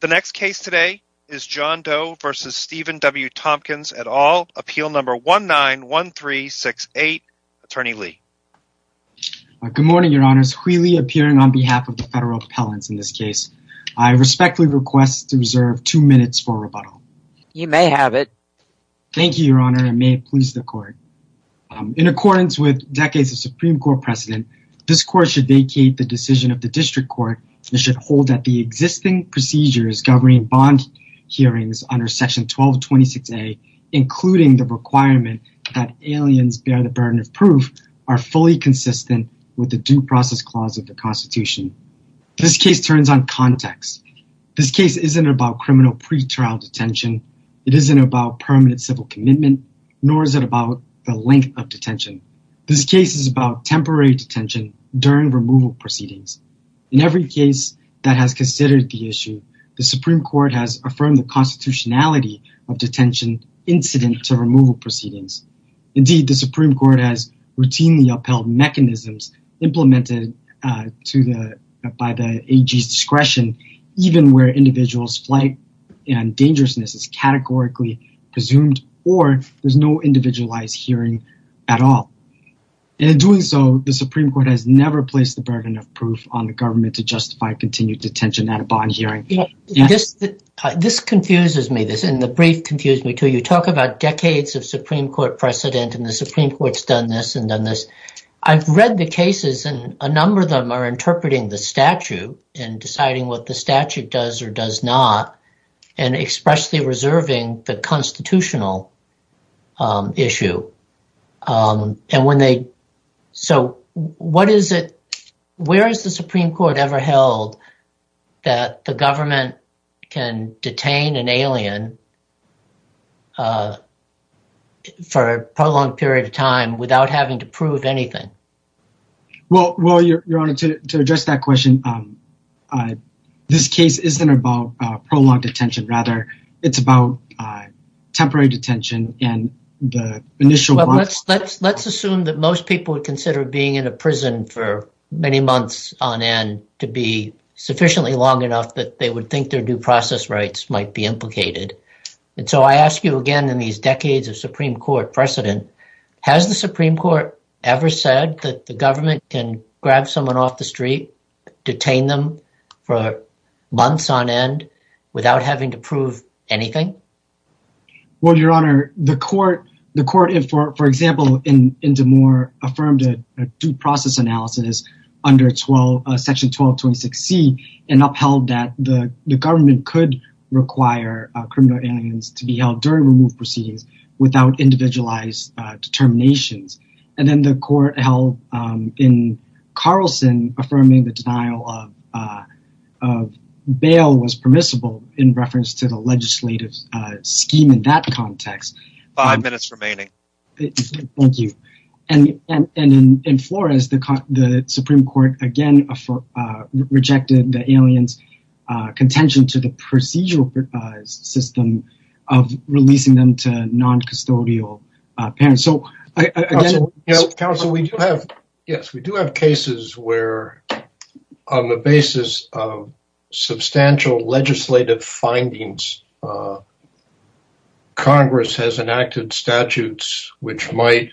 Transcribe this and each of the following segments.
The next case today is John Doe v. Stephen W. Tompkins, et al., Appeal Number 191368. Attorney Lee. Good morning, Your Honors. Huy Le, appearing on behalf of the Federal Appellants in this case. I respectfully request to reserve two minutes for rebuttal. You may have it. Thank you, Your Honor, and may it please the Court. In accordance with decades of Supreme Court precedent, this Court should vacate the decision of the District Court and should hold that the existing procedures governing bond hearings under Section 1226A, including the requirement that aliens bear the burden of proof, are fully consistent with the Due Process Clause of the Constitution. This case turns on context. This case isn't about criminal pretrial detention. It isn't about permanent civil commitment, nor is it about the length of detention. This case is about temporary detention during removal proceedings. In every case that has considered the issue, the Supreme Court has affirmed the constitutionality of detention incident to removal proceedings. Indeed, the Supreme Court has routinely upheld mechanisms implemented by the AG's discretion, even where individual's flight and dangerousness is categorically presumed or there's no individualized bond hearing at all. In doing so, the Supreme Court has never placed the burden of proof on the government to justify continued detention at a bond hearing. This confuses me, and the brief confused me, too. You talk about decades of Supreme Court precedent, and the Supreme Court has done this and done this. I've read the cases, and a number of them are interpreting the statute and deciding what the statute does or does not, and expressly reserving the constitutional issue. Where has the Supreme Court ever held that the government can detain an alien for a prolonged period of time without having to prove anything? Well, Your Honor, to address that question, this case isn't about prolonged detention, rather, it's about temporary detention and the initial months. Let's assume that most people would consider being in a prison for many months on end to be sufficiently long enough that they would think their due process rights might be implicated. I ask you again, in these decades of Supreme Court precedent, has the Supreme Court ever said that the government can grab someone off the street, detain them for months on end without having to prove anything? Well, Your Honor, the court, for example, in DeMoore, affirmed a due process analysis under Section 1226C and upheld that the government could require criminal aliens to be held during removed proceedings without individualized determinations. And then the court held, in Carlson, affirming the denial of bail was permissible in reference to the legislative scheme in that context. Five minutes remaining. Thank you. And in Flores, the Supreme Court again rejected the aliens' contention to the procedural system of releasing them to non-custodial parents. So again... Counsel, we do have cases where, on the basis of substantial legislative findings, Congress has enacted statutes which might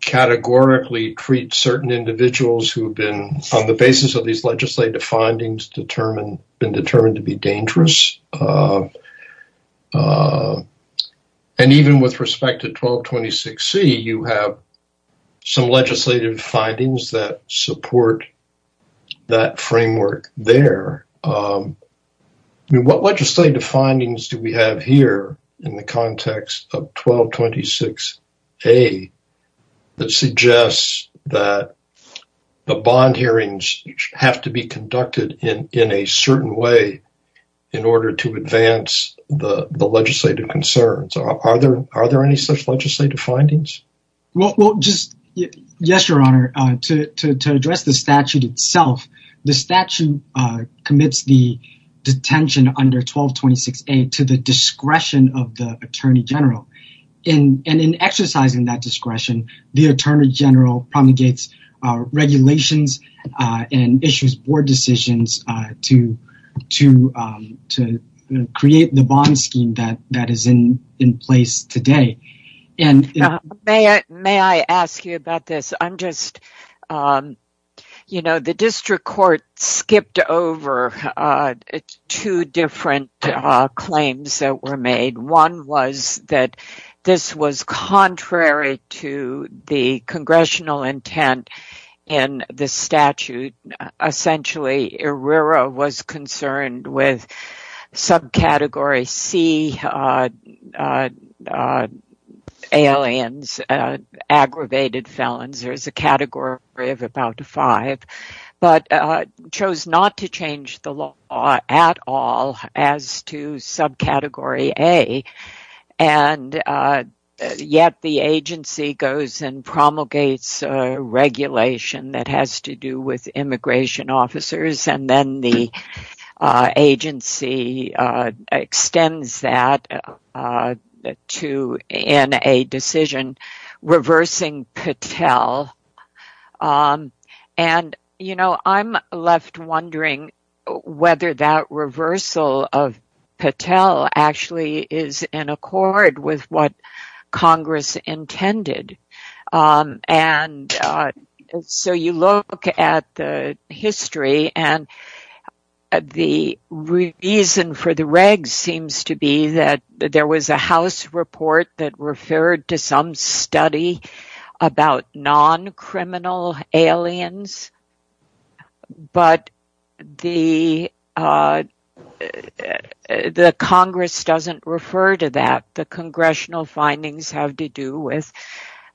categorically treat certain individuals who've been, on And even with respect to 1226C, you have some legislative findings that support that framework there. I mean, what legislative findings do we have here in the context of 1226A that suggests that the bond hearings have to be conducted in a certain way in order to advance the legislative concerns? Are there any such legislative findings? Well, just... Yes, Your Honor. To address the statute itself, the statute commits the detention under 1226A to the discretion of the Attorney General. And in exercising that discretion, the Attorney General promulgates regulations and issues board decisions to create the bond scheme that is in place today. May I ask you about this? I'm just... You know, the District Court skipped over two different claims that were made. One was that this was contrary to the Congressional intent in the statute. Essentially, ERIRA was concerned with subcategory C aliens, aggravated felons. There's a category of about five. But chose not to change the law at all as to subcategory A. And yet the agency goes and promulgates regulation that has to do with immigration officers. And then the agency extends that in a decision reversing Patel. And, you know, I'm left wondering whether that reversal of Patel actually is in accord with what Congress intended. And so you look at the history and the reason for the regs seems to be that there was a non-criminal aliens, but the Congress doesn't refer to that. The Congressional findings have to do with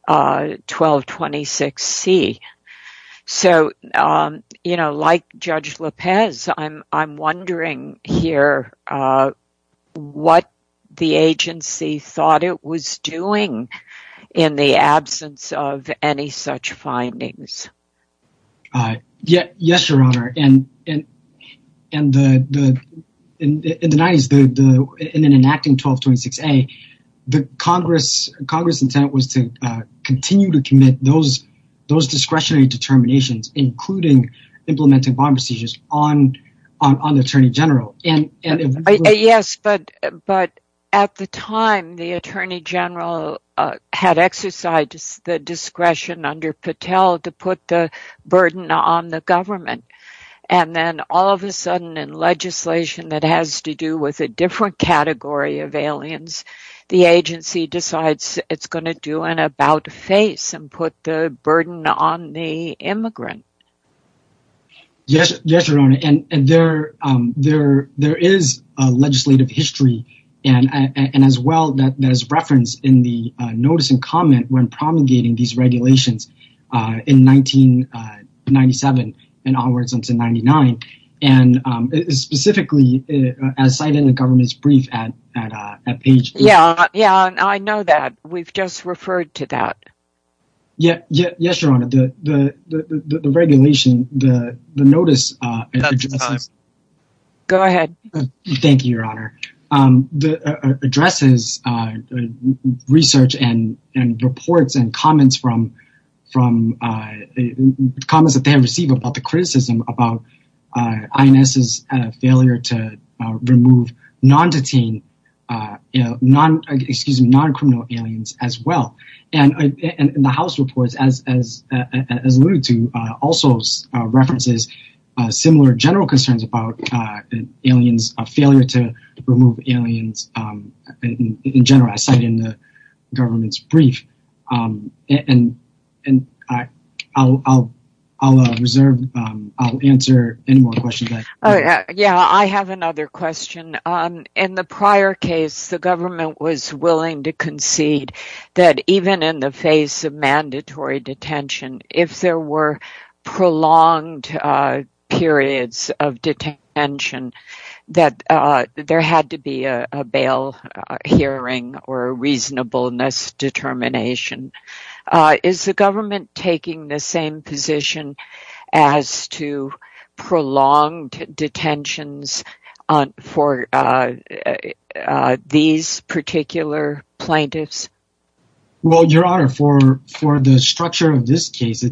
1226C. So like Judge Lopez, I'm wondering here what the agency thought it was doing in the absence of any such findings. Yes, Your Honor. And in the 90s, in an enacting 1226A, the Congress intent was to continue to commit those discretionary determinations, including implementing bond procedures on the Attorney General. Yes, but at the time, the Attorney General had exercised the discretion under Patel to put the burden on the government. And then all of a sudden in legislation that has to do with a different category of aliens, the agency decides it's going to do an about face and put the burden on the immigrant. Yes, Your Honor. And there is a legislative history and as well that there's reference in the notice and comment when promulgating these regulations in 1997 and onwards into 99. And specifically, as cited in the government's brief at Page. Yeah, I know that. We've just referred to that. Yes, Your Honor, the regulation, the notice. Go ahead. Thank you, Your Honor. It addresses research and reports and comments that they have received about the criticism about INS's failure to remove non-detained, excuse me, non-criminal aliens as well. And the House reports, as alluded to, also references similar general concerns about aliens, a failure to remove aliens in general, as cited in the government's brief. And I'll reserve, I'll answer any more questions. Yeah, I have another question. In the prior case, the government was willing to concede that even in the face of mandatory detention, if there were prolonged periods of detention, that there had to be a bail hearing or reasonableness determination. Is the government taking the same position as to prolonged detentions for these particular plaintiffs? Well, Your Honor, for the structure of this case,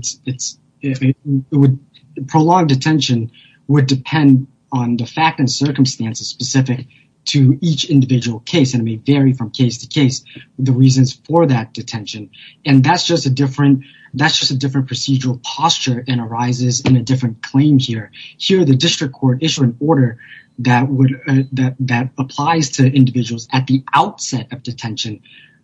prolonged detention would depend on the fact and circumstances specific to each individual case. And it may vary from case to case, the reasons for that detention. And that's just a different procedural posture and arises in a different claim here. Here, the district court issued an order that applies to individuals at the outset of detention,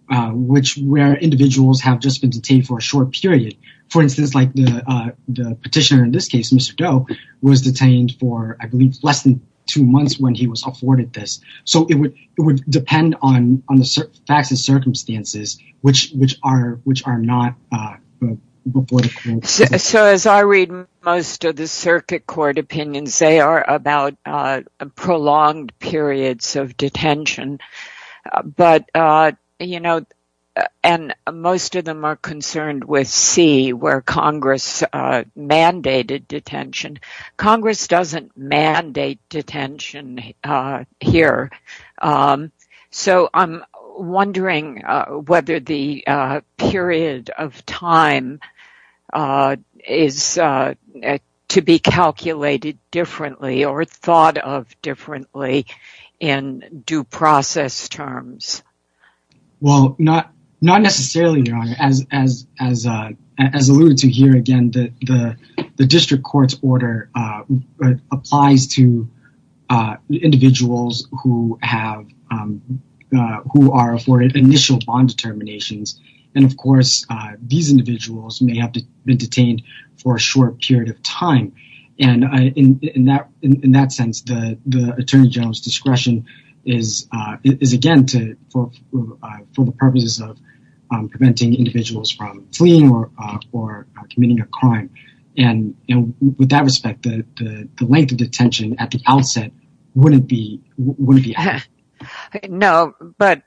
where individuals have just been detained for a short period. For instance, like the petitioner in this case, Mr. Doe, was detained for, I believe, less than two months when he was afforded this. So it would depend on the facts and circumstances, which are not before the court. So as I read most of the circuit court opinions, they are about prolonged periods of detention. But, you know, and most of them are concerned with C, where Congress mandated detention. Congress doesn't mandate detention here. So I'm wondering whether the period of time is to be calculated differently or thought of differently in due process terms. Well, not necessarily, Your Honor. As alluded to here again, the district court's order applies to individuals who are afforded initial bond determinations. And of course, these individuals may have been detained for a short period of time. And in that sense, the attorney general's discretion is, again, for the purposes of preventing individuals from fleeing or committing a crime. And with that respect, the length of detention at the outset wouldn't be. No, but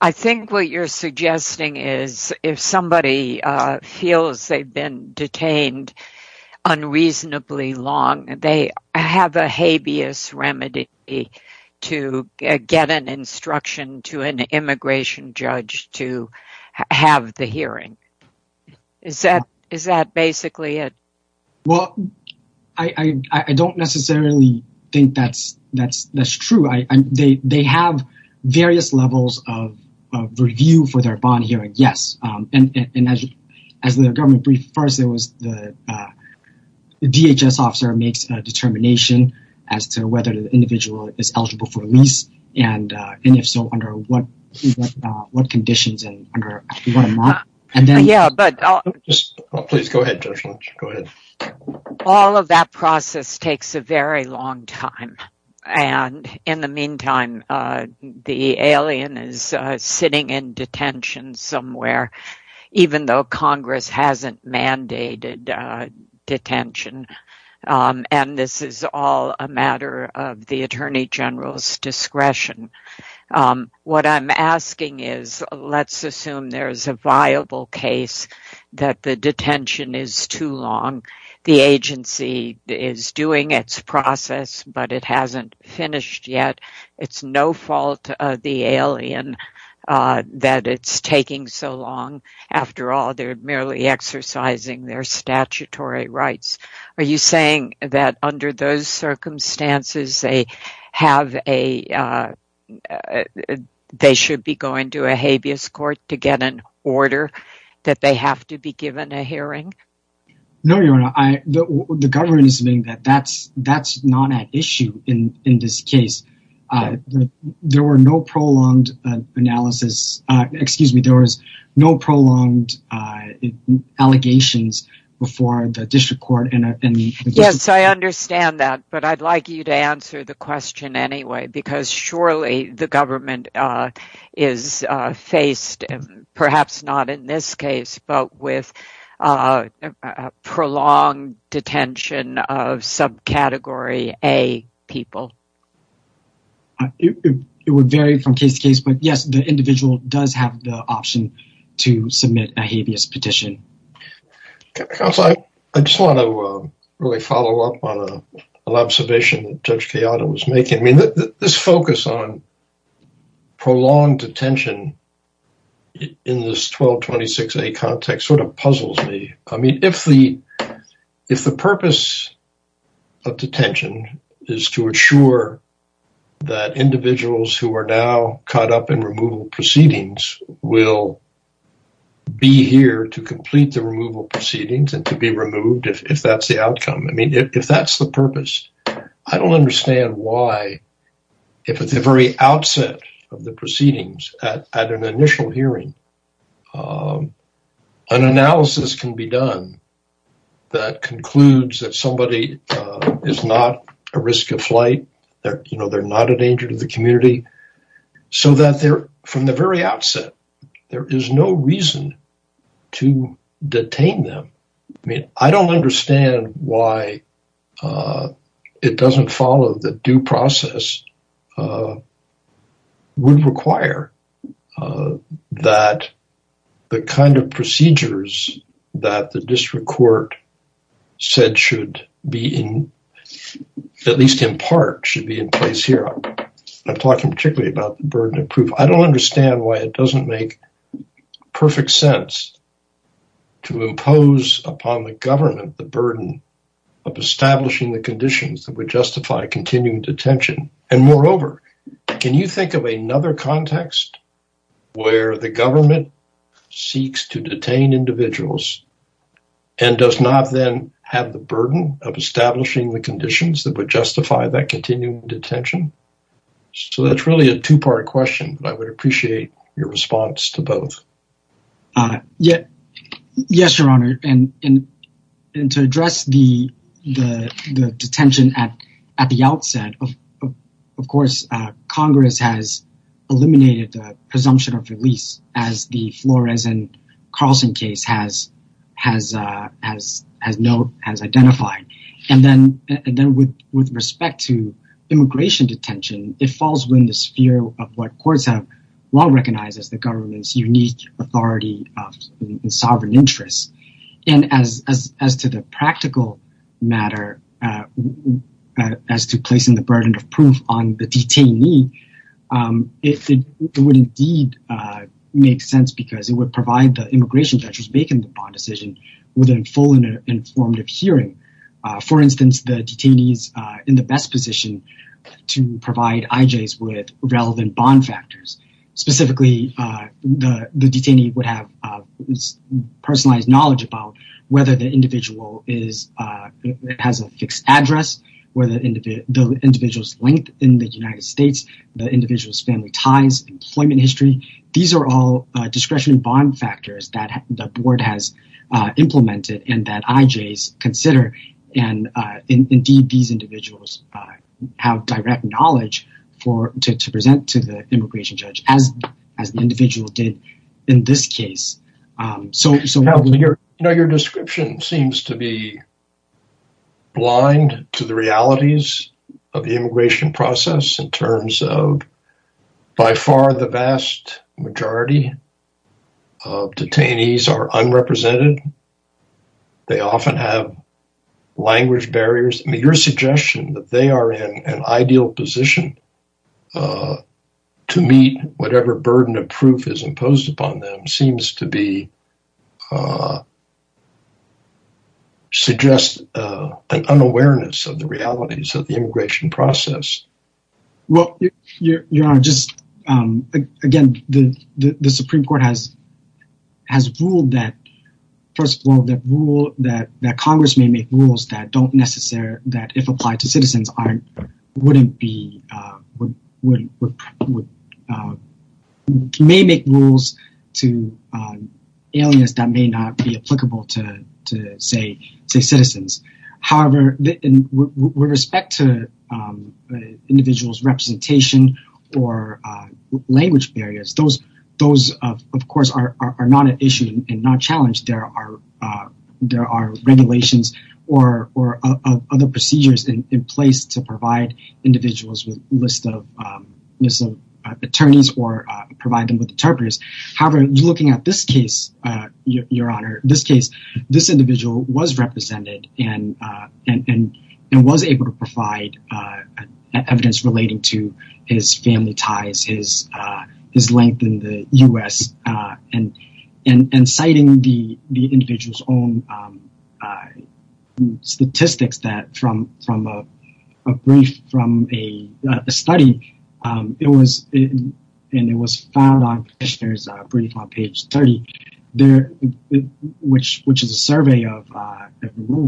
I think what you're suggesting is if somebody feels they've been detained unreasonably long, they have a habeas remedy to get an instruction to an immigration judge to have the hearing. Is that is that basically it? Well, I don't necessarily think that's true. They have various levels of review for their bond hearing, yes. And as the government briefed first, the DHS officer makes a determination as to whether the individual is eligible for a lease. And if so, under what conditions and under what amount. And then, yeah, but just please go ahead, Judge Lynch, go ahead. All of that process takes a very long time. And in the meantime, the alien is sitting in detention somewhere, even though Congress hasn't mandated detention. And this is all a matter of the attorney general's discretion. What I'm asking is, let's assume there is a viable case that the detention is too long. The agency is doing its process, but it hasn't finished yet. It's no fault of the alien that it's taking so long. After all, they're merely exercising their statutory rights. Are you saying that under those circumstances, they should be going to a habeas court to get an order that they have to be given a hearing? No, Your Honor, the government is saying that that's not an issue in this case. There were no prolonged analysis. Excuse me, there was no prolonged allegations before the district court. Yes, I understand that. But I'd like you to answer the question anyway, because surely the government is faced, perhaps not in this case, but with a prolonged detention of subcategory A people. It would vary from case to case. But yes, the individual does have the option to submit a habeas petition. I just want to really follow up on an observation that Judge Chiara was making. This focus on prolonged detention in this 1226A context sort of puzzles me. I mean, if the purpose of detention is to assure that individuals who are now caught up in removal proceedings will be here to complete the removal proceedings and to be removed, if that's the outcome. I mean, if that's the purpose, I don't understand why, if at the very outset of the proceedings at an initial hearing, an analysis can be done that concludes that somebody is not a risk of flight, they're not a danger to the community, so that they're, from the very outset, there is no reason to detain them. I mean, I don't understand why it doesn't follow that due process would require that the kind of procedures that the district court said should be in, at least in part, should be in place here. I'm talking particularly about the burden of proof. I don't understand why it doesn't make perfect sense to impose upon the government the burden of establishing the conditions that would justify continuing detention. And moreover, can you think of another context where the government seeks to detain individuals and does not then have the burden of establishing the conditions that would justify that continuing detention? So that's really a two-part question, but I would appreciate your response to both. Yes, Your Honor. And to address the detention at the outset, of course, Congress has eliminated the presumption of release as the Flores and Carlson case has identified. And then with respect to immigration detention, it falls within the sphere of what courts have long recognized as the government's unique authority of sovereign interests. And as to the practical matter, as to placing the burden of proof on the detainee, it would indeed make sense because it would provide the immigration judge's decision within a full and informative hearing. For instance, the detainee is in the best position to provide IJs with relevant bond factors. Specifically, the detainee would have personalized knowledge about whether the individual has a fixed address, whether the individual's length in the United States, the individual's family ties, employment history. These are all discretionary bond factors that the board has implemented and that IJs consider. And indeed, these individuals have direct knowledge to present to the immigration judge, as the individual did in this case. So, Your description seems to be blind to the realities of the immigration process in that the vast majority of detainees are unrepresented. They often have language barriers. Your suggestion that they are in an ideal position to meet whatever burden of proof is imposed upon them seems to be, suggests an unawareness of the realities of the immigration process. Well, Your Honor, again, the Supreme Court has ruled that, first of all, that Congress may make rules that don't necessarily, that if applied to citizens, may make rules to aliens that may not be applicable to, say, citizens. However, with respect to individuals' representation or language barriers, those of course are not an issue and not a challenge. There are regulations or other procedures in place to provide individuals with a list of attorneys or provide them with interpreters. However, looking at this case, Your Honor, this case, this individual was represented and was able to provide evidence relating to his family ties, his length in the U.S. and citing the individual's own statistics that from a brief from a study, it was found on brief on page 30, which is a survey of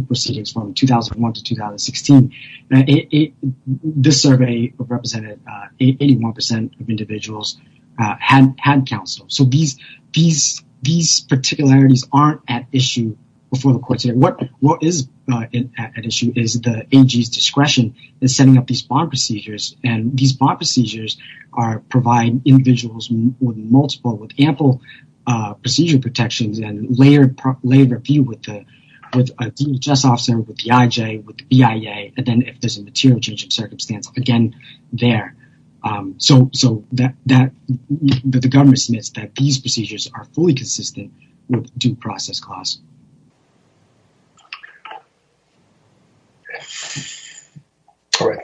proceedings from 2001 to 2016. This survey represented 81 percent of individuals had counsel. So these particularities aren't at issue before the court today. What is at issue is the AG's discretion in setting up these bond procedures and these bond procedures, multiple with ample procedure protections and layered review with the DHS officer, with the IJ, with the BIA, and then if there's a material change of circumstance, again, there. So that the government submits that these procedures are fully consistent with due process clause.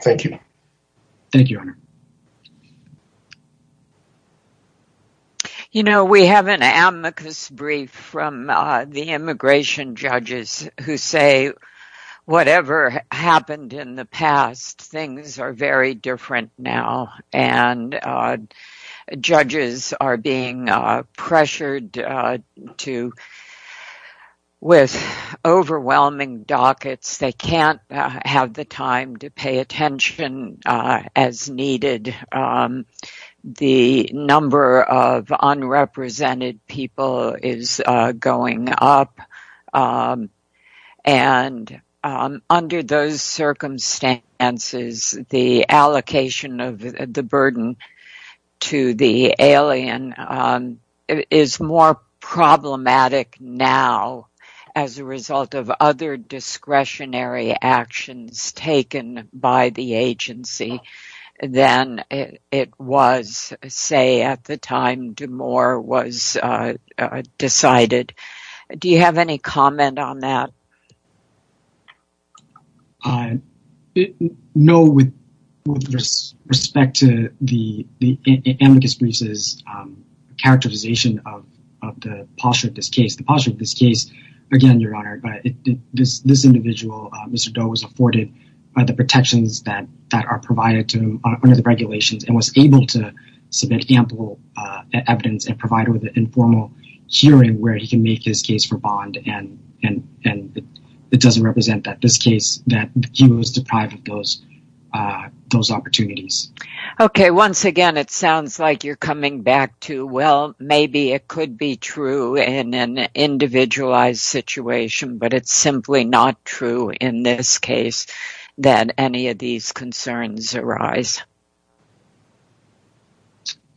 Thank you. Thank you, Your Honor. You know, we have an amicus brief from the immigration judges who say whatever happened in the past, things are very different now and judges are being pressured to with overwhelming dockets. They can't have the time to pay attention as needed. The number of unrepresented people is going up and under those circumstances, the allocation of the burden to the alien is more problematic now as a result of other it was, say, at the time DeMoore was decided. Do you have any comment on that? No, with respect to the amicus briefs' characterization of the posture of this case. The posture of this case, again, Your Honor, this individual, Mr. DeMoore was provided to him under the regulations and was able to submit ample evidence and provide with an informal hearing where he can make his case for bond. And it doesn't represent that this case that he was deprived of those opportunities. Okay. Once again, it sounds like you're coming back to, well, maybe it could be true in an individualized situation, but it's simply not true in this case that any of these concerns arise.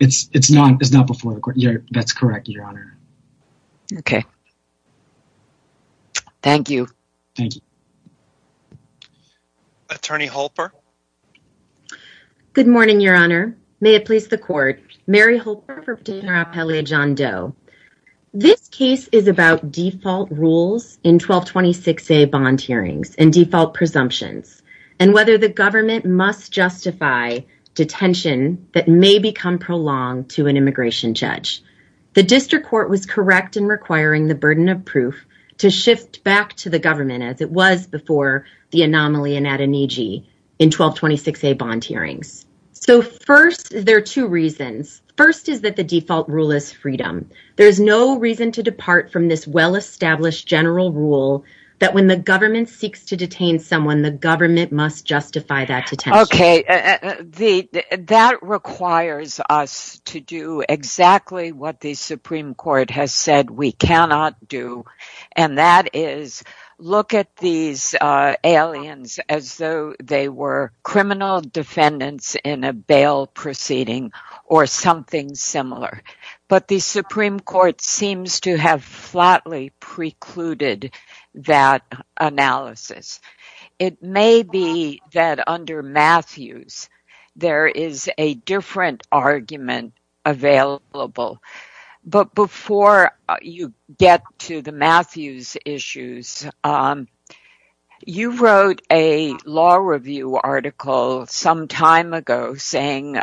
It's not before the court. That's correct, Your Honor. Okay. Thank you. Thank you. Attorney Holper. Good morning, Your Honor. May it please the court. Mary Holper for Petitioner Appellate John Doe. This case is about default rules in 1226A bond hearings and default presumptions and whether the government must justify detention that may become prolonged to an immigration judge. The district court was correct in requiring the burden of proof to shift back to the government as it was before the anomaly in Adoniji in 1226A bond hearings. So first, there are two reasons. First is that the default rule is freedom. There is no reason to depart from this well-established general rule that when the Supreme Court has said we cannot do and that is look at these aliens as though they were criminal defendants in a bail proceeding or something similar. But the Supreme Court seems to have flatly precluded that analysis. It may be that under Matthews, there is a different argument available. But before you get to the Matthews issues, you wrote a law review article some time ago saying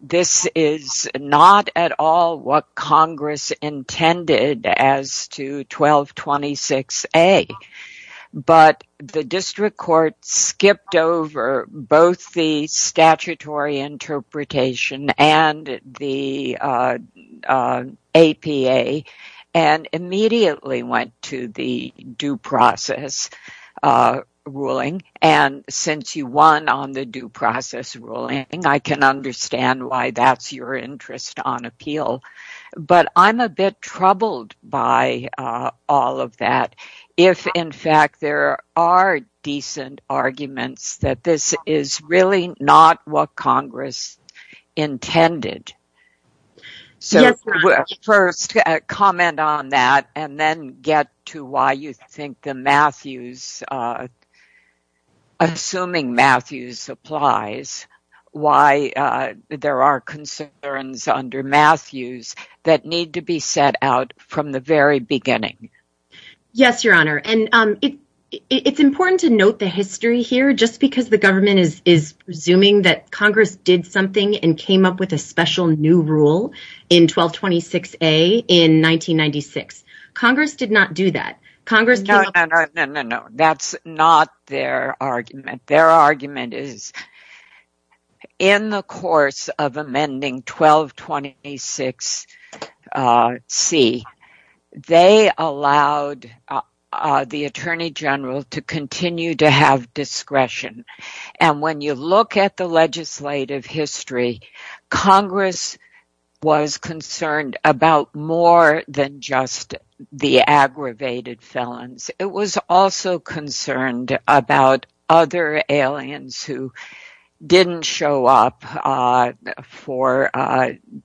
this is not at all what Congress intended as to 1226A, but the district court skipped over both the statutory interpretation and the APA and immediately went to the due process ruling. And since you won on the due process ruling, I can understand why that's your interest on appeal. But I'm a bit troubled by all of that if, in fact, there are decent arguments that this is really not what Congress intended. So first, comment on that and then get to why you think the Matthews, assuming Matthews applies, why there are concerns under Matthews that need to be set out from the very beginning. Yes, Your Honor. And it's important to note the history here just because the government is presuming that Congress did not do that. No, no, no, no, no, no. That's not their argument. Their argument is in the course of amending 1226C, they allowed the attorney general to continue to have discretion. And when you look at the legislative history, Congress was concerned about more than just the aggravated felons. It was also concerned about other aliens who didn't show up for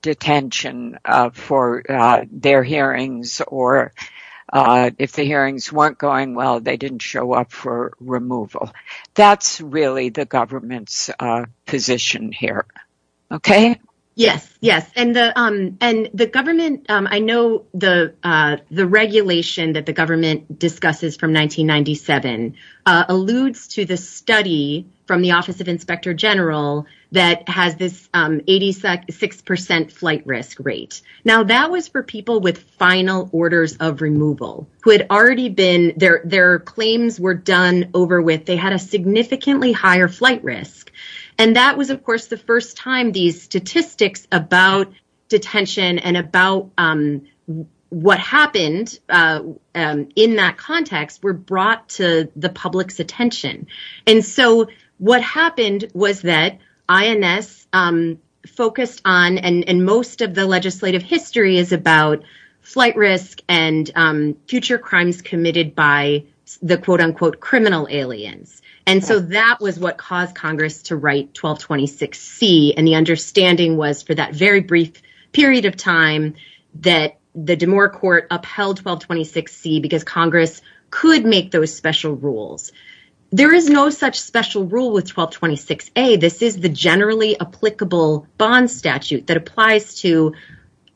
detention for their hearings or if the hearings weren't going well, they didn't show up for removal. That's really the government's position here. OK? Yes, yes. And the government, I know the regulation that the government discusses from 1997 alludes to the study from the Office of Inspector General that has this 86 percent flight risk rate. Now, that was for people with final orders of removal who had already been there. They had a significantly higher flight risk. And that was, of course, the first time these statistics about detention and about what happened in that context were brought to the public's attention. And so what happened was that INS focused on and most of the legislative history is about flight risk and future crimes committed by the quote unquote criminal aliens. And so that was what caused Congress to write 1226C. And the understanding was for that very brief period of time that the D'Amour court upheld 1226C because Congress could make those special rules. There is no such special rule with 1226A. This is the generally applicable bond statute that applies to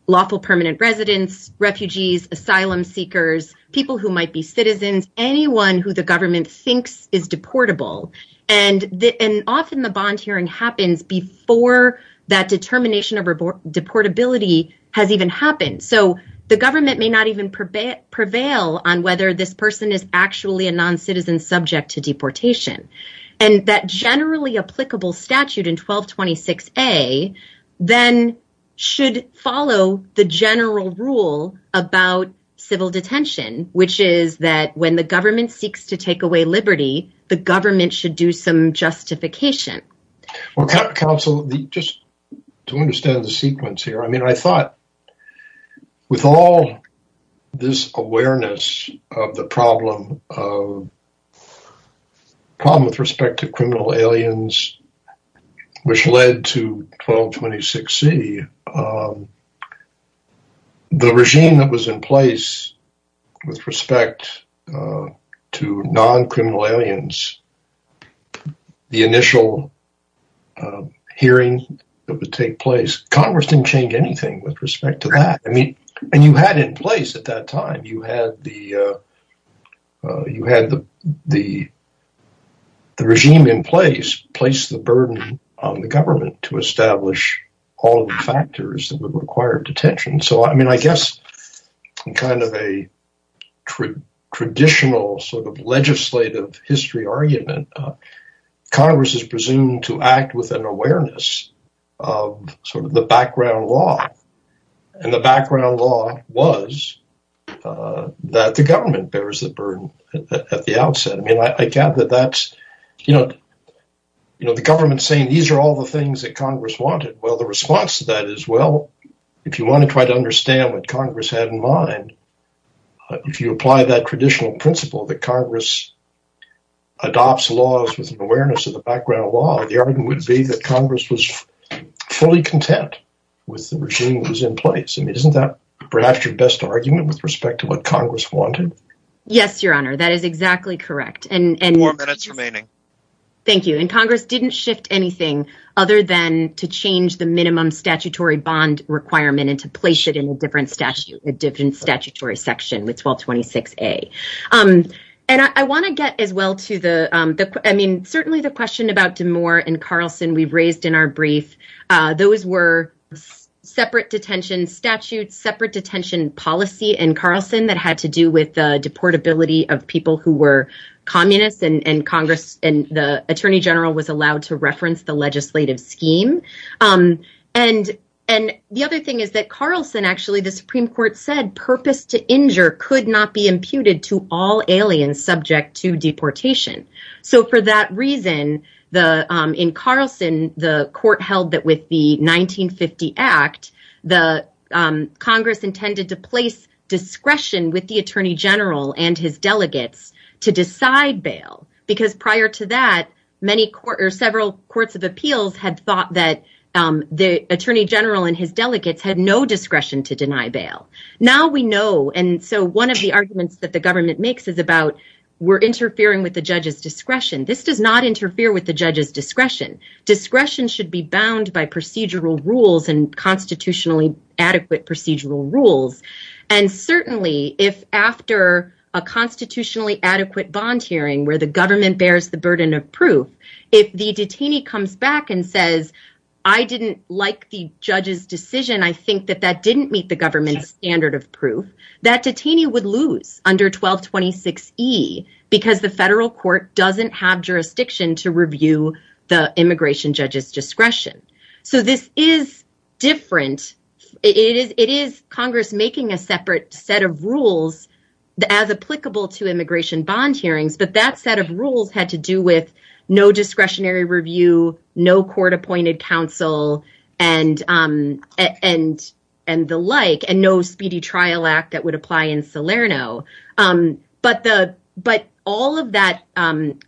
lawful permanent residents, refugees, asylum seekers, people who might be citizens, anyone who the government thinks is deportable. And often the bond hearing happens before that determination of deportability has even happened. So the government may not even prevail on whether this person is actually a non-citizen subject to deportation. And that generally applicable statute in 1226A then should follow the general rule about civil detention, which is that when the government seeks to take away liberty, the government should do some justification. Well, counsel, just to understand the sequence here, I mean, I thought with all this problem with respect to criminal aliens, which led to 1226C, the regime that was in place with respect to non-criminal aliens, the initial hearing that would take place, Congress didn't change anything with respect to that. And you had in place at that time, you had the regime in place, placed the burden on the government to establish all the factors that would require detention. So, I mean, I guess in kind of a traditional sort of legislative history argument, Congress is background law was that the government bears the burden at the outset. I mean, I get that that's, you know, the government saying these are all the things that Congress wanted. Well, the response to that is, well, if you want to try to understand what Congress had in mind, if you apply that traditional principle that Congress adopts laws with an awareness of the background law, the argument would be that Congress was fully content with the regime that was in place. Isn't that perhaps your best argument with respect to what Congress wanted? Yes, Your Honor, that is exactly correct. And more minutes remaining. Thank you. And Congress didn't shift anything other than to change the minimum statutory bond requirement and to place it in a different statute, a different statutory section with 1226A. And I want to get as well to the I mean, certainly the question about DeMoor and Carlson we've raised in our brief. Those were separate detention statutes, separate detention policy, and Carlson that had to do with the deportability of people who were communists and Congress and the attorney general was allowed to reference the legislative scheme. And and the other thing is that Carlson, actually, the Supreme Court said purpose to injure could not be imputed to all aliens subject to deportation. So for that reason, the in Carlson, the court held that with the 1950 act, the Congress intended to place discretion with the attorney general and his delegates to decide bail because prior to that, many court or several courts of appeals had thought that the attorney general and his delegates had no discretion to deny bail. Now we know. And so one of the arguments that the government makes is about we're interfering with the judge's discretion. This does not interfere with the judge's discretion. Discretion should be bound by procedural rules and constitutionally adequate procedural rules. And certainly if after a constitutionally adequate bond hearing where the government bears the burden of proof, if the detainee comes back and says, I didn't like the judge's decision, I think that that didn't meet the government's standard of proof that detainee would lose under 1226 E because the federal court doesn't have jurisdiction to review the immigration judge's discretion. So this is different. It is it is Congress making a separate set of rules as applicable to immigration bond hearings. But that set of rules had to do with no discretionary review, no court appointed counsel and and and the like and no speedy trial act that would apply in Salerno. But the but all of that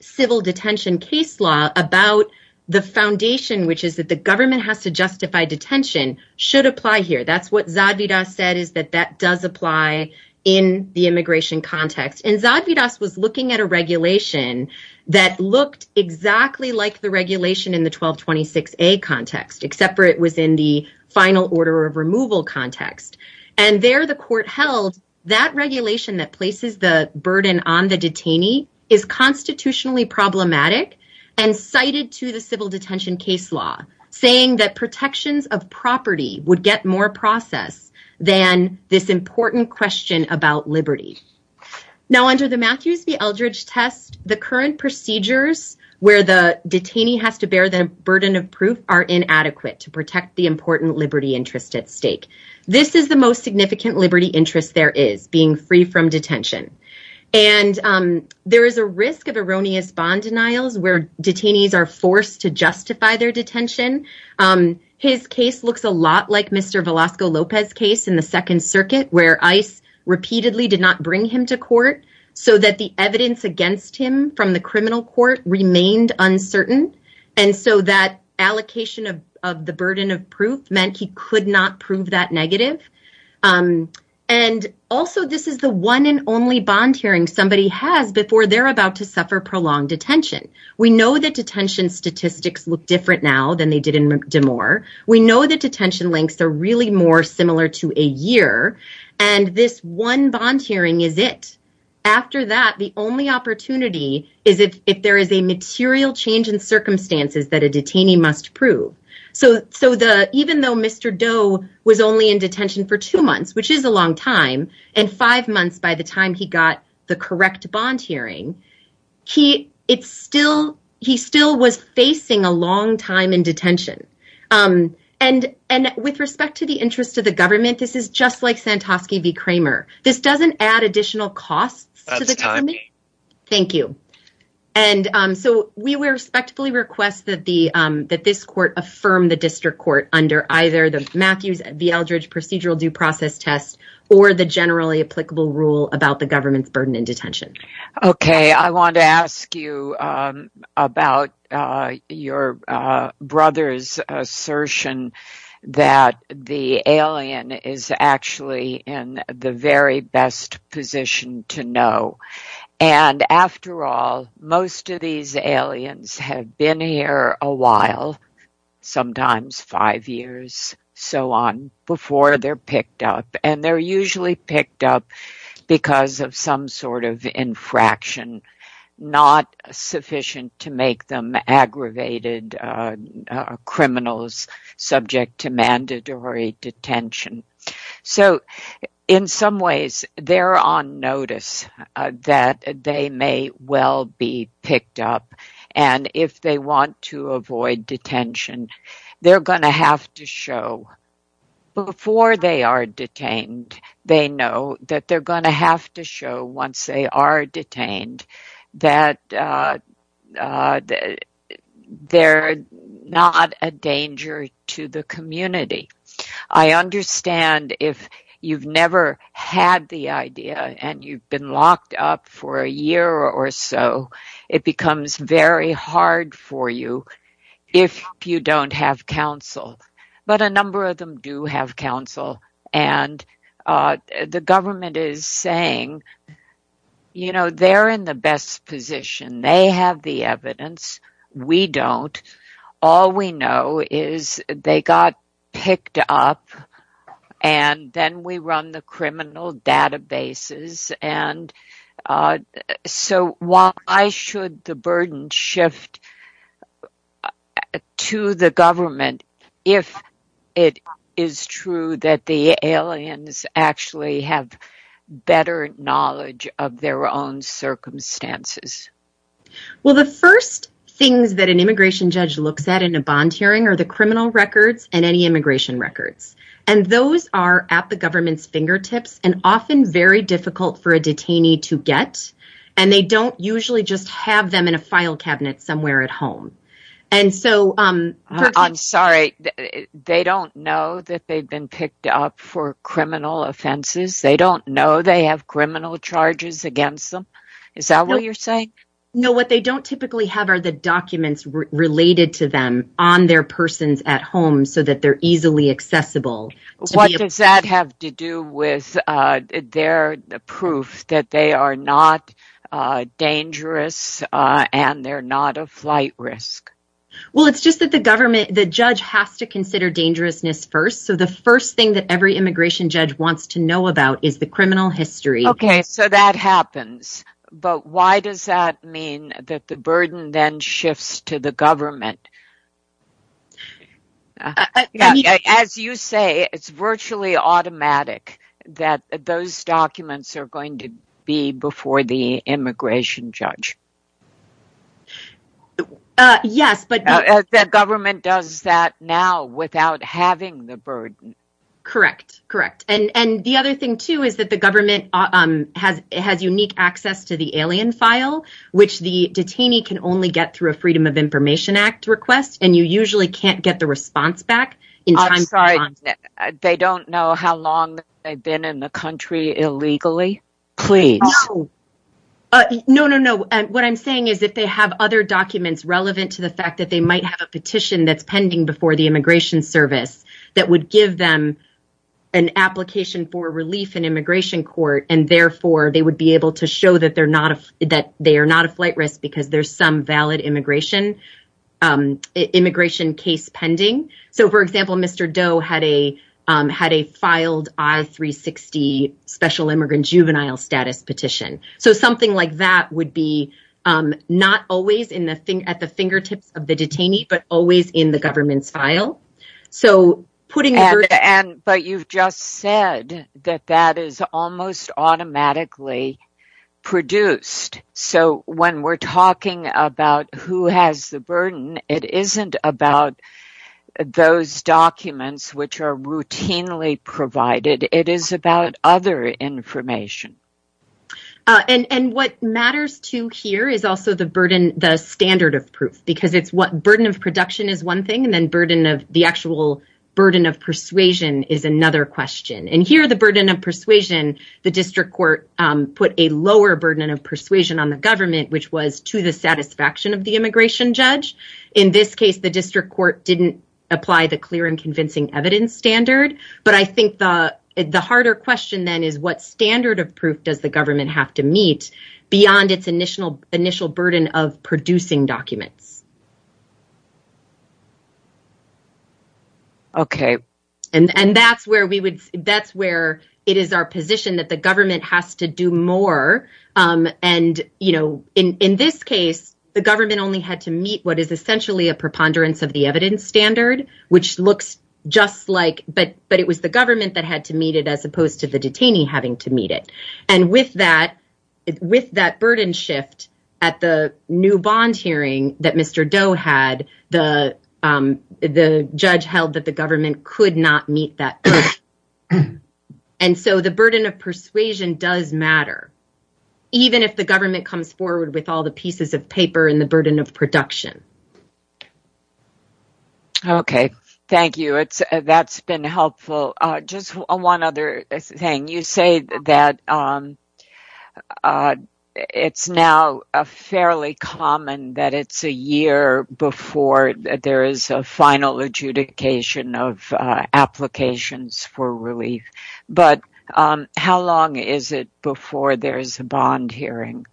civil detention case law about the foundation, which is that the government has to justify detention should apply here. That's what Zadvydas said, is that that does apply in the immigration context. And Zadvydas was looking at a regulation that looked exactly like the regulation in the 1226 A context, except for it was in the final order of removal context. And there the court held that regulation that places the burden on the detainee is constitutionally problematic and cited to the civil detention case law, saying that protections of property would get more process than this important question about liberty. Now, under the Matthews v. Burden of Proof are inadequate to protect the important liberty interest at stake. This is the most significant liberty interest there is being free from detention. And there is a risk of erroneous bond denials where detainees are forced to justify their detention. His case looks a lot like Mr. Velasco Lopez case in the Second Circuit, where ICE repeatedly did not bring him to court so that the evidence against him from the criminal court remained uncertain. And so that allocation of the burden of proof meant he could not prove that negative. And also, this is the one and only bond hearing somebody has before they're about to suffer prolonged detention. We know that detention statistics look different now than they did in McMore. We know that detention links are really more similar to a year. And this one bond hearing is it. After that, the only opportunity is if there is a material change in circumstances that a detainee must prove. So so the even though Mr. Doe was only in detention for two months, which is a long time, and five months by the time he got the correct bond hearing, he it's still he still was facing a long time in detention. And and with respect to the interest of the government, this is just like Santosky v. Kramer. This doesn't add additional costs to the time. Thank you. And so we respectfully request that the that this court affirm the district court under either the Matthews v. Eldridge procedural due process test or the generally applicable rule about the government's burden in detention. OK, I want to ask you about your brother's assertion that the alien is actually in the very best position to know. And after all, most of these aliens have been here a while, sometimes five years, so on before they're picked up. And they're usually picked up because of some sort of infraction, not sufficient to make them aggravated criminals subject to mandatory detention. So in some ways, they're on notice that they may well be picked up. And if they want to avoid detention, they're going to have to show before they are detained. They know that they're going to have to show once they are detained that they're not a danger to the community. I understand if you've never had the idea and you've been locked up for a year or so, it becomes very hard for you if you don't have counsel. But a number of them do have counsel. And the government is saying, you know, they're in the best position. They have the evidence. We don't. All we know is they got picked up and then we run the criminal databases. And so why should the burden shift to the government if it is true that the aliens actually have better knowledge of their own circumstances? Well, the first things that an immigration judge looks at in a bond hearing are the criminal records and any immigration records. And those are at the government's fingertips and often very difficult for a detainee to get. And they don't usually just have them in a file cabinet somewhere at home. And so I'm sorry, they don't know that they've been picked up for criminal offenses. They don't know they have criminal charges against them. Is that what you're saying? No, what they don't typically have are the documents related to them on their persons at home so that they're easily accessible. What does that have to do with their proof that they are not dangerous and they're not a flight risk? Well, it's just that the government, the judge has to consider dangerousness first. So the first thing that every immigration judge wants to know about is the criminal history. OK, so that happens. But why does that mean that the burden then shifts to the government? As you say, it's virtually automatic that those documents are going to be before the immigration judge. Yes, but the government does that now without having the burden. Correct. Correct. And the other thing, too, is that the government has unique access to the alien file, which the detainee can only get through a Freedom of Information Act request. And you usually can't get the response back in time. I'm sorry. They don't know how long they've been in the country illegally. Please. No, no, no. What I'm saying is that they have other documents relevant to the fact that they might have a petition that's pending before the Immigration Service that would give them an application for relief in immigration court. And therefore, they would be able to show that they're not that they are not a flight risk because there's some valid immigration immigration case pending. So, for example, Mr. Doe had a had a filed I-360 special immigrant juvenile status petition. So something like that would be not always in the thing at the fingertips of the detainee, but always in the government's file. So putting it. But you've just said that that is almost automatically produced. So when we're talking about who has the burden, it isn't about those documents which are routinely provided. It is about other information. And what matters to hear is also the burden, the standard of proof, because it's what burden of production is one thing and then burden of the actual burden of persuasion is another question. And here the burden of persuasion, the district court put a lower burden of persuasion on the government, which was to the satisfaction of the immigration judge. In this case, the district court didn't apply the clear and convincing evidence standard. But I think the harder question then is what standard of proof does the government have to meet beyond its initial initial burden of producing documents? OK, and that's where we would that's where it is our position that the government has to do more. And, you know, in this case, the government only had to meet what is essentially a preponderance of the evidence standard, which looks just like but but it was the government that had to meet it as opposed to the detainee having to meet it. And with that, with that burden shift at the new bond hearing that Mr. Doe had, the the judge held that the government could not meet that. And so the burden of persuasion does matter, even if the government comes forward with all the pieces of paper and the burden of production. OK, thank you. It's that's been helpful. Just one other thing. You say that it's now fairly common that it's a year before there is a final adjudication of applications for relief. But how long is it before there is a bond hearing?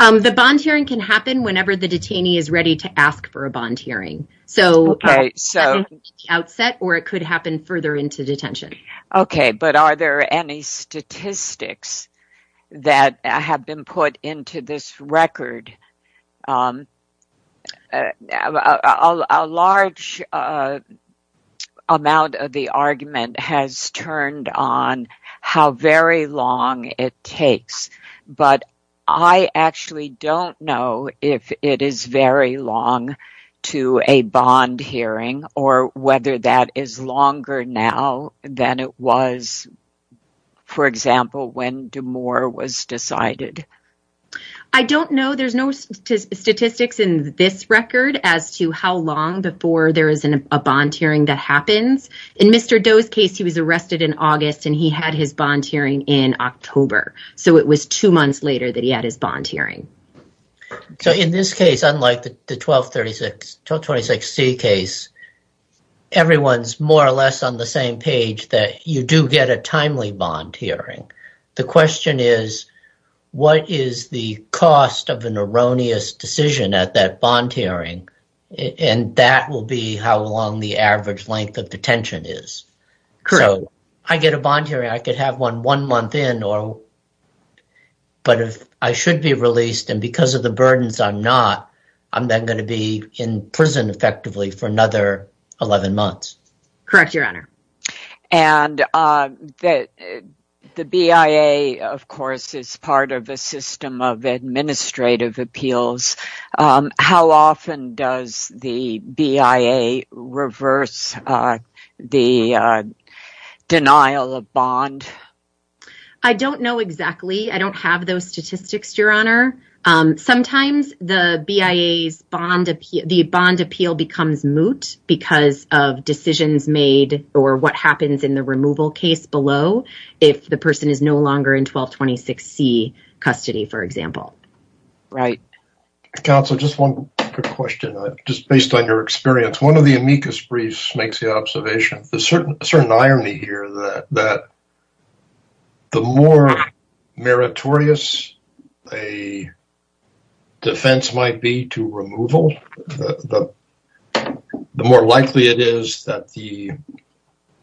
The bond hearing can happen whenever the detainee is ready to ask for a bond hearing. So, OK, so outset or it could happen further into detention. OK, but are there any statistics that have been put into this record? OK, a large amount of the argument has turned on how very long it takes. But I actually don't know if it is very long to a bond hearing or whether that is longer now than it was, for example, when DeMoor was decided. I don't know. There's no statistics in this record as to how long before there is a bond hearing that happens. In Mr. Doe's case, he was arrested in August and he had his bond hearing in October. So it was two months later that he had his bond hearing. So in this case, unlike the 1236 C case, everyone's more or less on the same page that you do get a timely bond hearing. The question is, what is the cost of an erroneous decision at that bond hearing? And that will be how long the average length of detention is. So I get a bond hearing. I could have one one month in or. But if I should be released and because of the burdens, I'm not, I'm not going to Correct, Your Honor. And that the BIA, of course, is part of a system of administrative appeals. How often does the BIA reverse the denial of bond? I don't know exactly. I don't have those statistics, Your Honor. Sometimes the BIA's bond, the bond appeal becomes moot because of decisions made or what happens in the removal case below if the person is no longer in 1226 C custody, for example. Right. Counsel, just one quick question, just based on your experience. One of the amicus briefs makes the observation, there's a certain irony here that the more meritorious a defense might be to removal, the more likely it is that the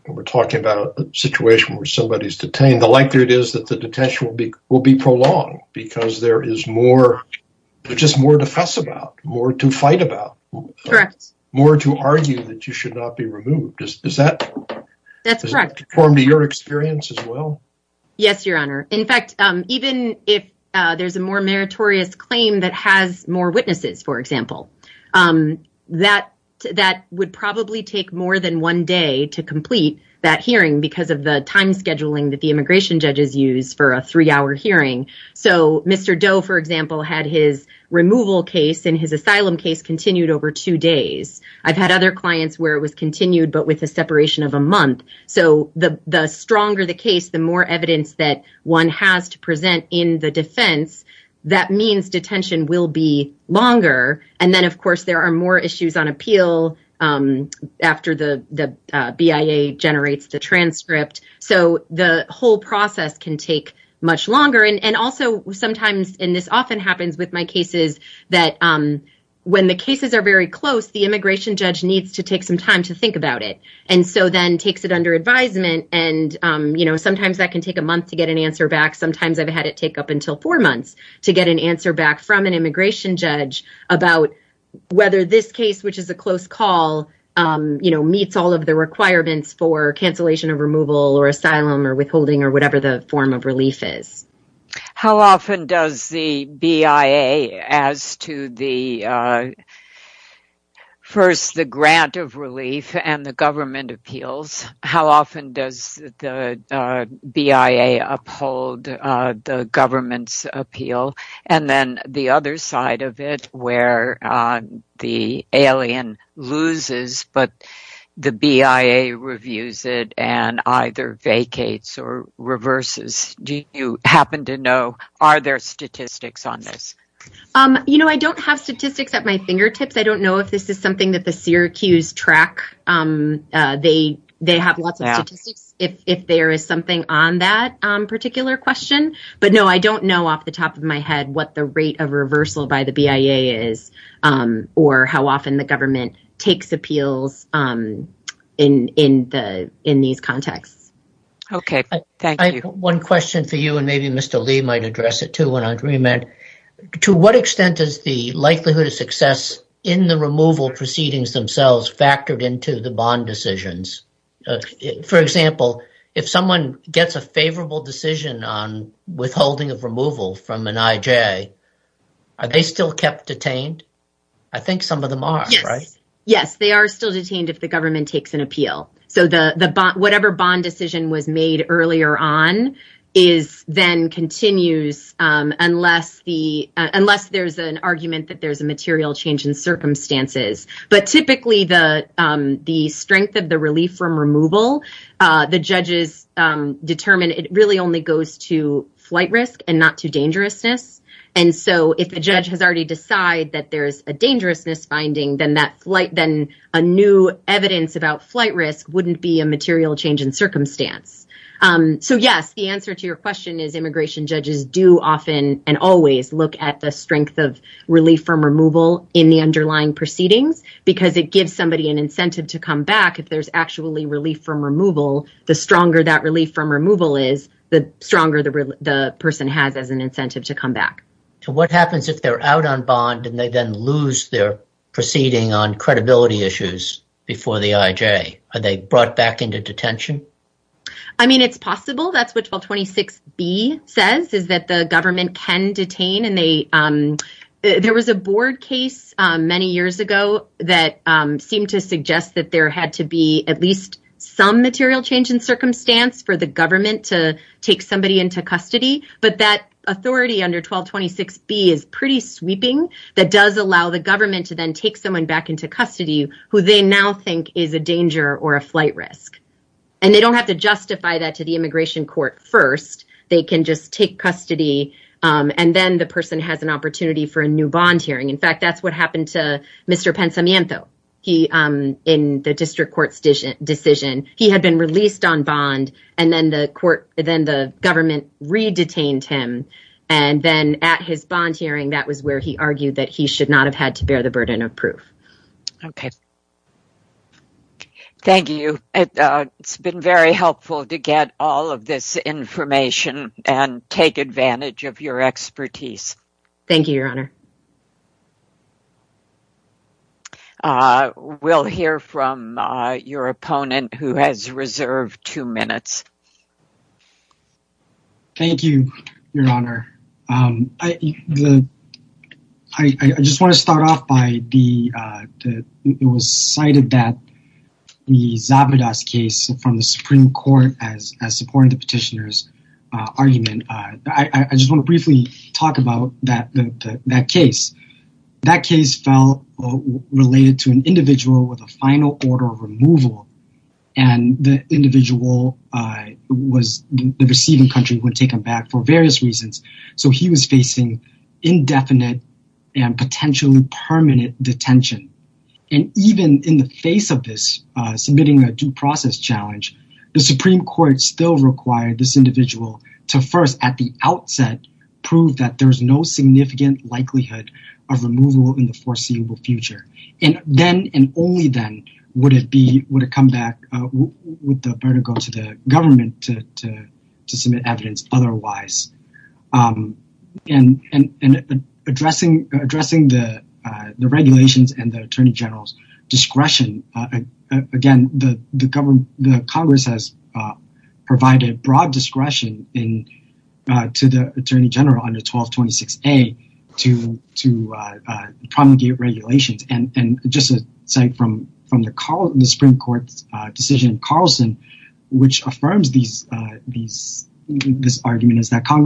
we're talking about a situation where somebody is detained, the likelihood is that the detention will be prolonged because there is more, just more to fuss about, more to fight about, more to argue that you should not be removed. Does that? That's correct. Does that conform to your experience as well? Yes, Your Honor. In fact, even if there's a more meritorious claim that has more witnesses, for example, that would probably take more than one day to complete that hearing because of the time scheduling that the immigration judges use for a three hour hearing. So Mr. Doe, for example, had his removal case and his asylum case continued over two days. I've had other clients where it was continued, but with a separation of a month. So the stronger the case, the more evidence that one has to present in the defense. That means detention will be longer. And then, of course, there are more issues on appeal after the BIA generates the transcript. So the whole process can take much longer. And also sometimes, and this often happens with my cases, that when the cases are very close, the immigration judge needs to take some time to think about it and so then takes it under advisement. And, you know, sometimes that can take a month to get an answer back. Sometimes I've had it take up until four months to get an answer back from an immigration judge about whether this case, which is a close call, you know, meets all of the requirements for cancellation of removal or asylum or withholding or whatever the form of relief is. How often does the BIA, as to the first, the grant of relief and the government appeals, how often does the BIA uphold the government's appeal? And then the other side of it, where the alien loses, but the BIA reviews it and either vacates or reverses. Do you happen to know, are there statistics on this? You know, I don't have statistics at my fingertips. I don't know if this is something that the Syracuse track, they have lots of statistics if there is something on that particular question. But no, I don't know off the top of my head what the rate of reversal by the BIA is or how often the government takes appeals in these contexts. OK, thank you. One question for you, and maybe Mr. Lee might address it, too, when I remand. To what extent is the likelihood of success in the removal proceedings themselves factored into the bond decisions? For example, if someone gets a favorable decision on withholding of removal from an IJ, are they still kept detained? I think some of them are, right? Yes, they are still detained if the government takes an appeal. So the whatever bond decision was made earlier on is then continues unless the unless there's an argument that there's a material change in circumstances. But typically the the strength of the relief from removal, the judges determine it really only goes to flight risk and not to dangerousness. And so if a judge has already decided that there is a dangerousness finding, then that wouldn't be a material change in circumstance. So, yes, the answer to your question is immigration judges do often and always look at the strength of relief from removal in the underlying proceedings because it gives somebody an incentive to come back. If there's actually relief from removal, the stronger that relief from removal is, the stronger the person has as an incentive to come back. So what happens if they're out on bond and they then lose their proceeding on credibility issues before the IJ? Are they brought back into detention? I mean, it's possible that's what 1226B says is that the government can detain and they there was a board case many years ago that seemed to suggest that there had to be at least some material change in circumstance for the government to take somebody into custody. But that authority under 1226B is pretty sweeping. That does allow the government to then take someone back into custody who they now think is a danger or a flight risk. And they don't have to justify that to the immigration court first. They can just take custody. And then the person has an opportunity for a new bond hearing. In fact, that's what happened to Mr. Pensamiento. He in the district court's decision, he had been released on bond and then the court, then the government re-detained him. And then at his bond hearing, that was where he argued that he should not have had to bear the burden of proof. OK. Thank you. It's been very helpful to get all of this information and take advantage of your expertise. Thank you, Your Honor. We'll hear from your opponent who has reserved two minutes. Thank you, Your Honor. I just want to start off by the, it was cited that the Zabardas case from the Supreme Court as supporting the petitioner's argument. I just want to briefly talk about that case. That case fell related to an individual with a final order of removal. And the individual was the receiving country who had taken back for various reasons. So he was facing indefinite and potentially permanent detention. And even in the face of this, submitting a due process challenge, the Supreme Court still required this individual to first, at the outset, prove that there is no significant likelihood of removal in the foreseeable future. And then and only then would it be, would it come back, would the burden go to the government to submit evidence otherwise. And addressing the regulations and the Attorney General's discretion, again, the Congress has provided broad discretion to the Attorney General under 1226A to promulgate regulations. And just to cite from the Supreme Court's decision in Carlson, which states that there are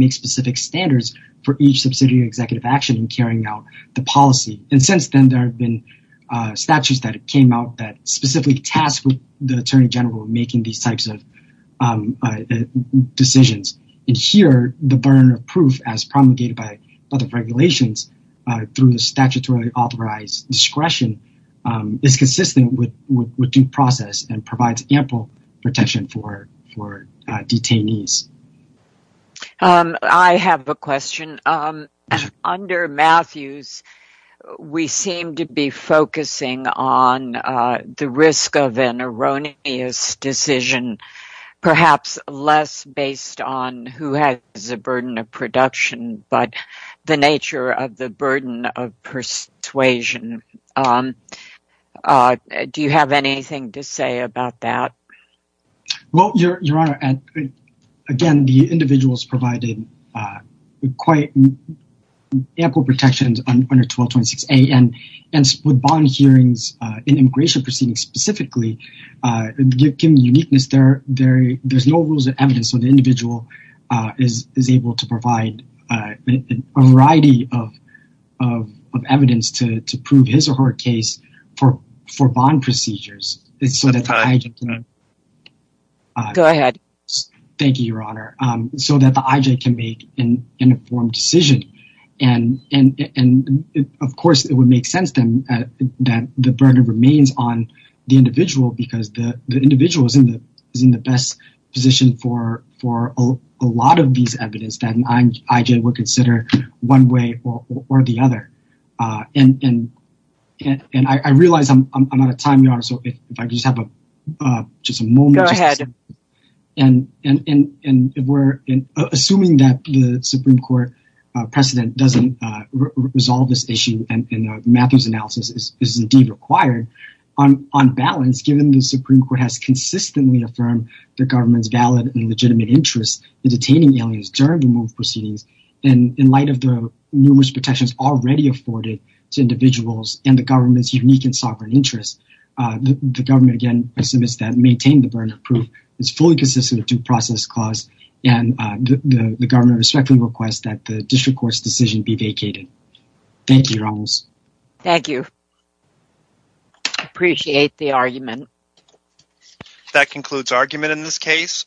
no specific standards for each subsidiary executive action in carrying out the policy. And since then, there have been statutes that came out that specifically tasked with the Attorney General making these types of decisions. And here, the burden of proof, as promulgated by other regulations through the statutorily authorized discretion, is consistent with due process and provides ample protection for detainees. I have a question. Under Matthews, we seem to be focusing on the risk of an erroneous decision, perhaps less based on who has a burden of production, but the nature of the burden of persuasion. Do you have anything to say about that? Well, Your Honor, again, the individuals provided quite ample protections under 1226A. And with bond hearings in immigration proceedings specifically, given the uniqueness, there's no rules of evidence. So the individual is able to provide a variety of evidence to prove his or her case for bond procedures so that the IJ can make an informed decision. And, of course, it would make sense then that the burden remains on the individual because the individual is in the best position for a lot of these evidence that an IJ would consider one way or the other. And I realize I'm out of time, Your Honor, so if I could just have just a moment. Go ahead. And we're assuming that the Supreme Court precedent doesn't resolve this issue. And Matthews' analysis is indeed required on balance, given the Supreme Court has consistently affirmed the government's valid and legitimate interest in detaining aliens during removed proceedings. And in light of the numerous protections already afforded to individuals and the government's unique and sovereign interests, the government, again, submits that maintain the burden of proof is fully consistent with due process clause. And the government respectfully requests that the district court's decision be vacated. Thank you, Ramos. Thank you. Appreciate the argument. That concludes argument in this case.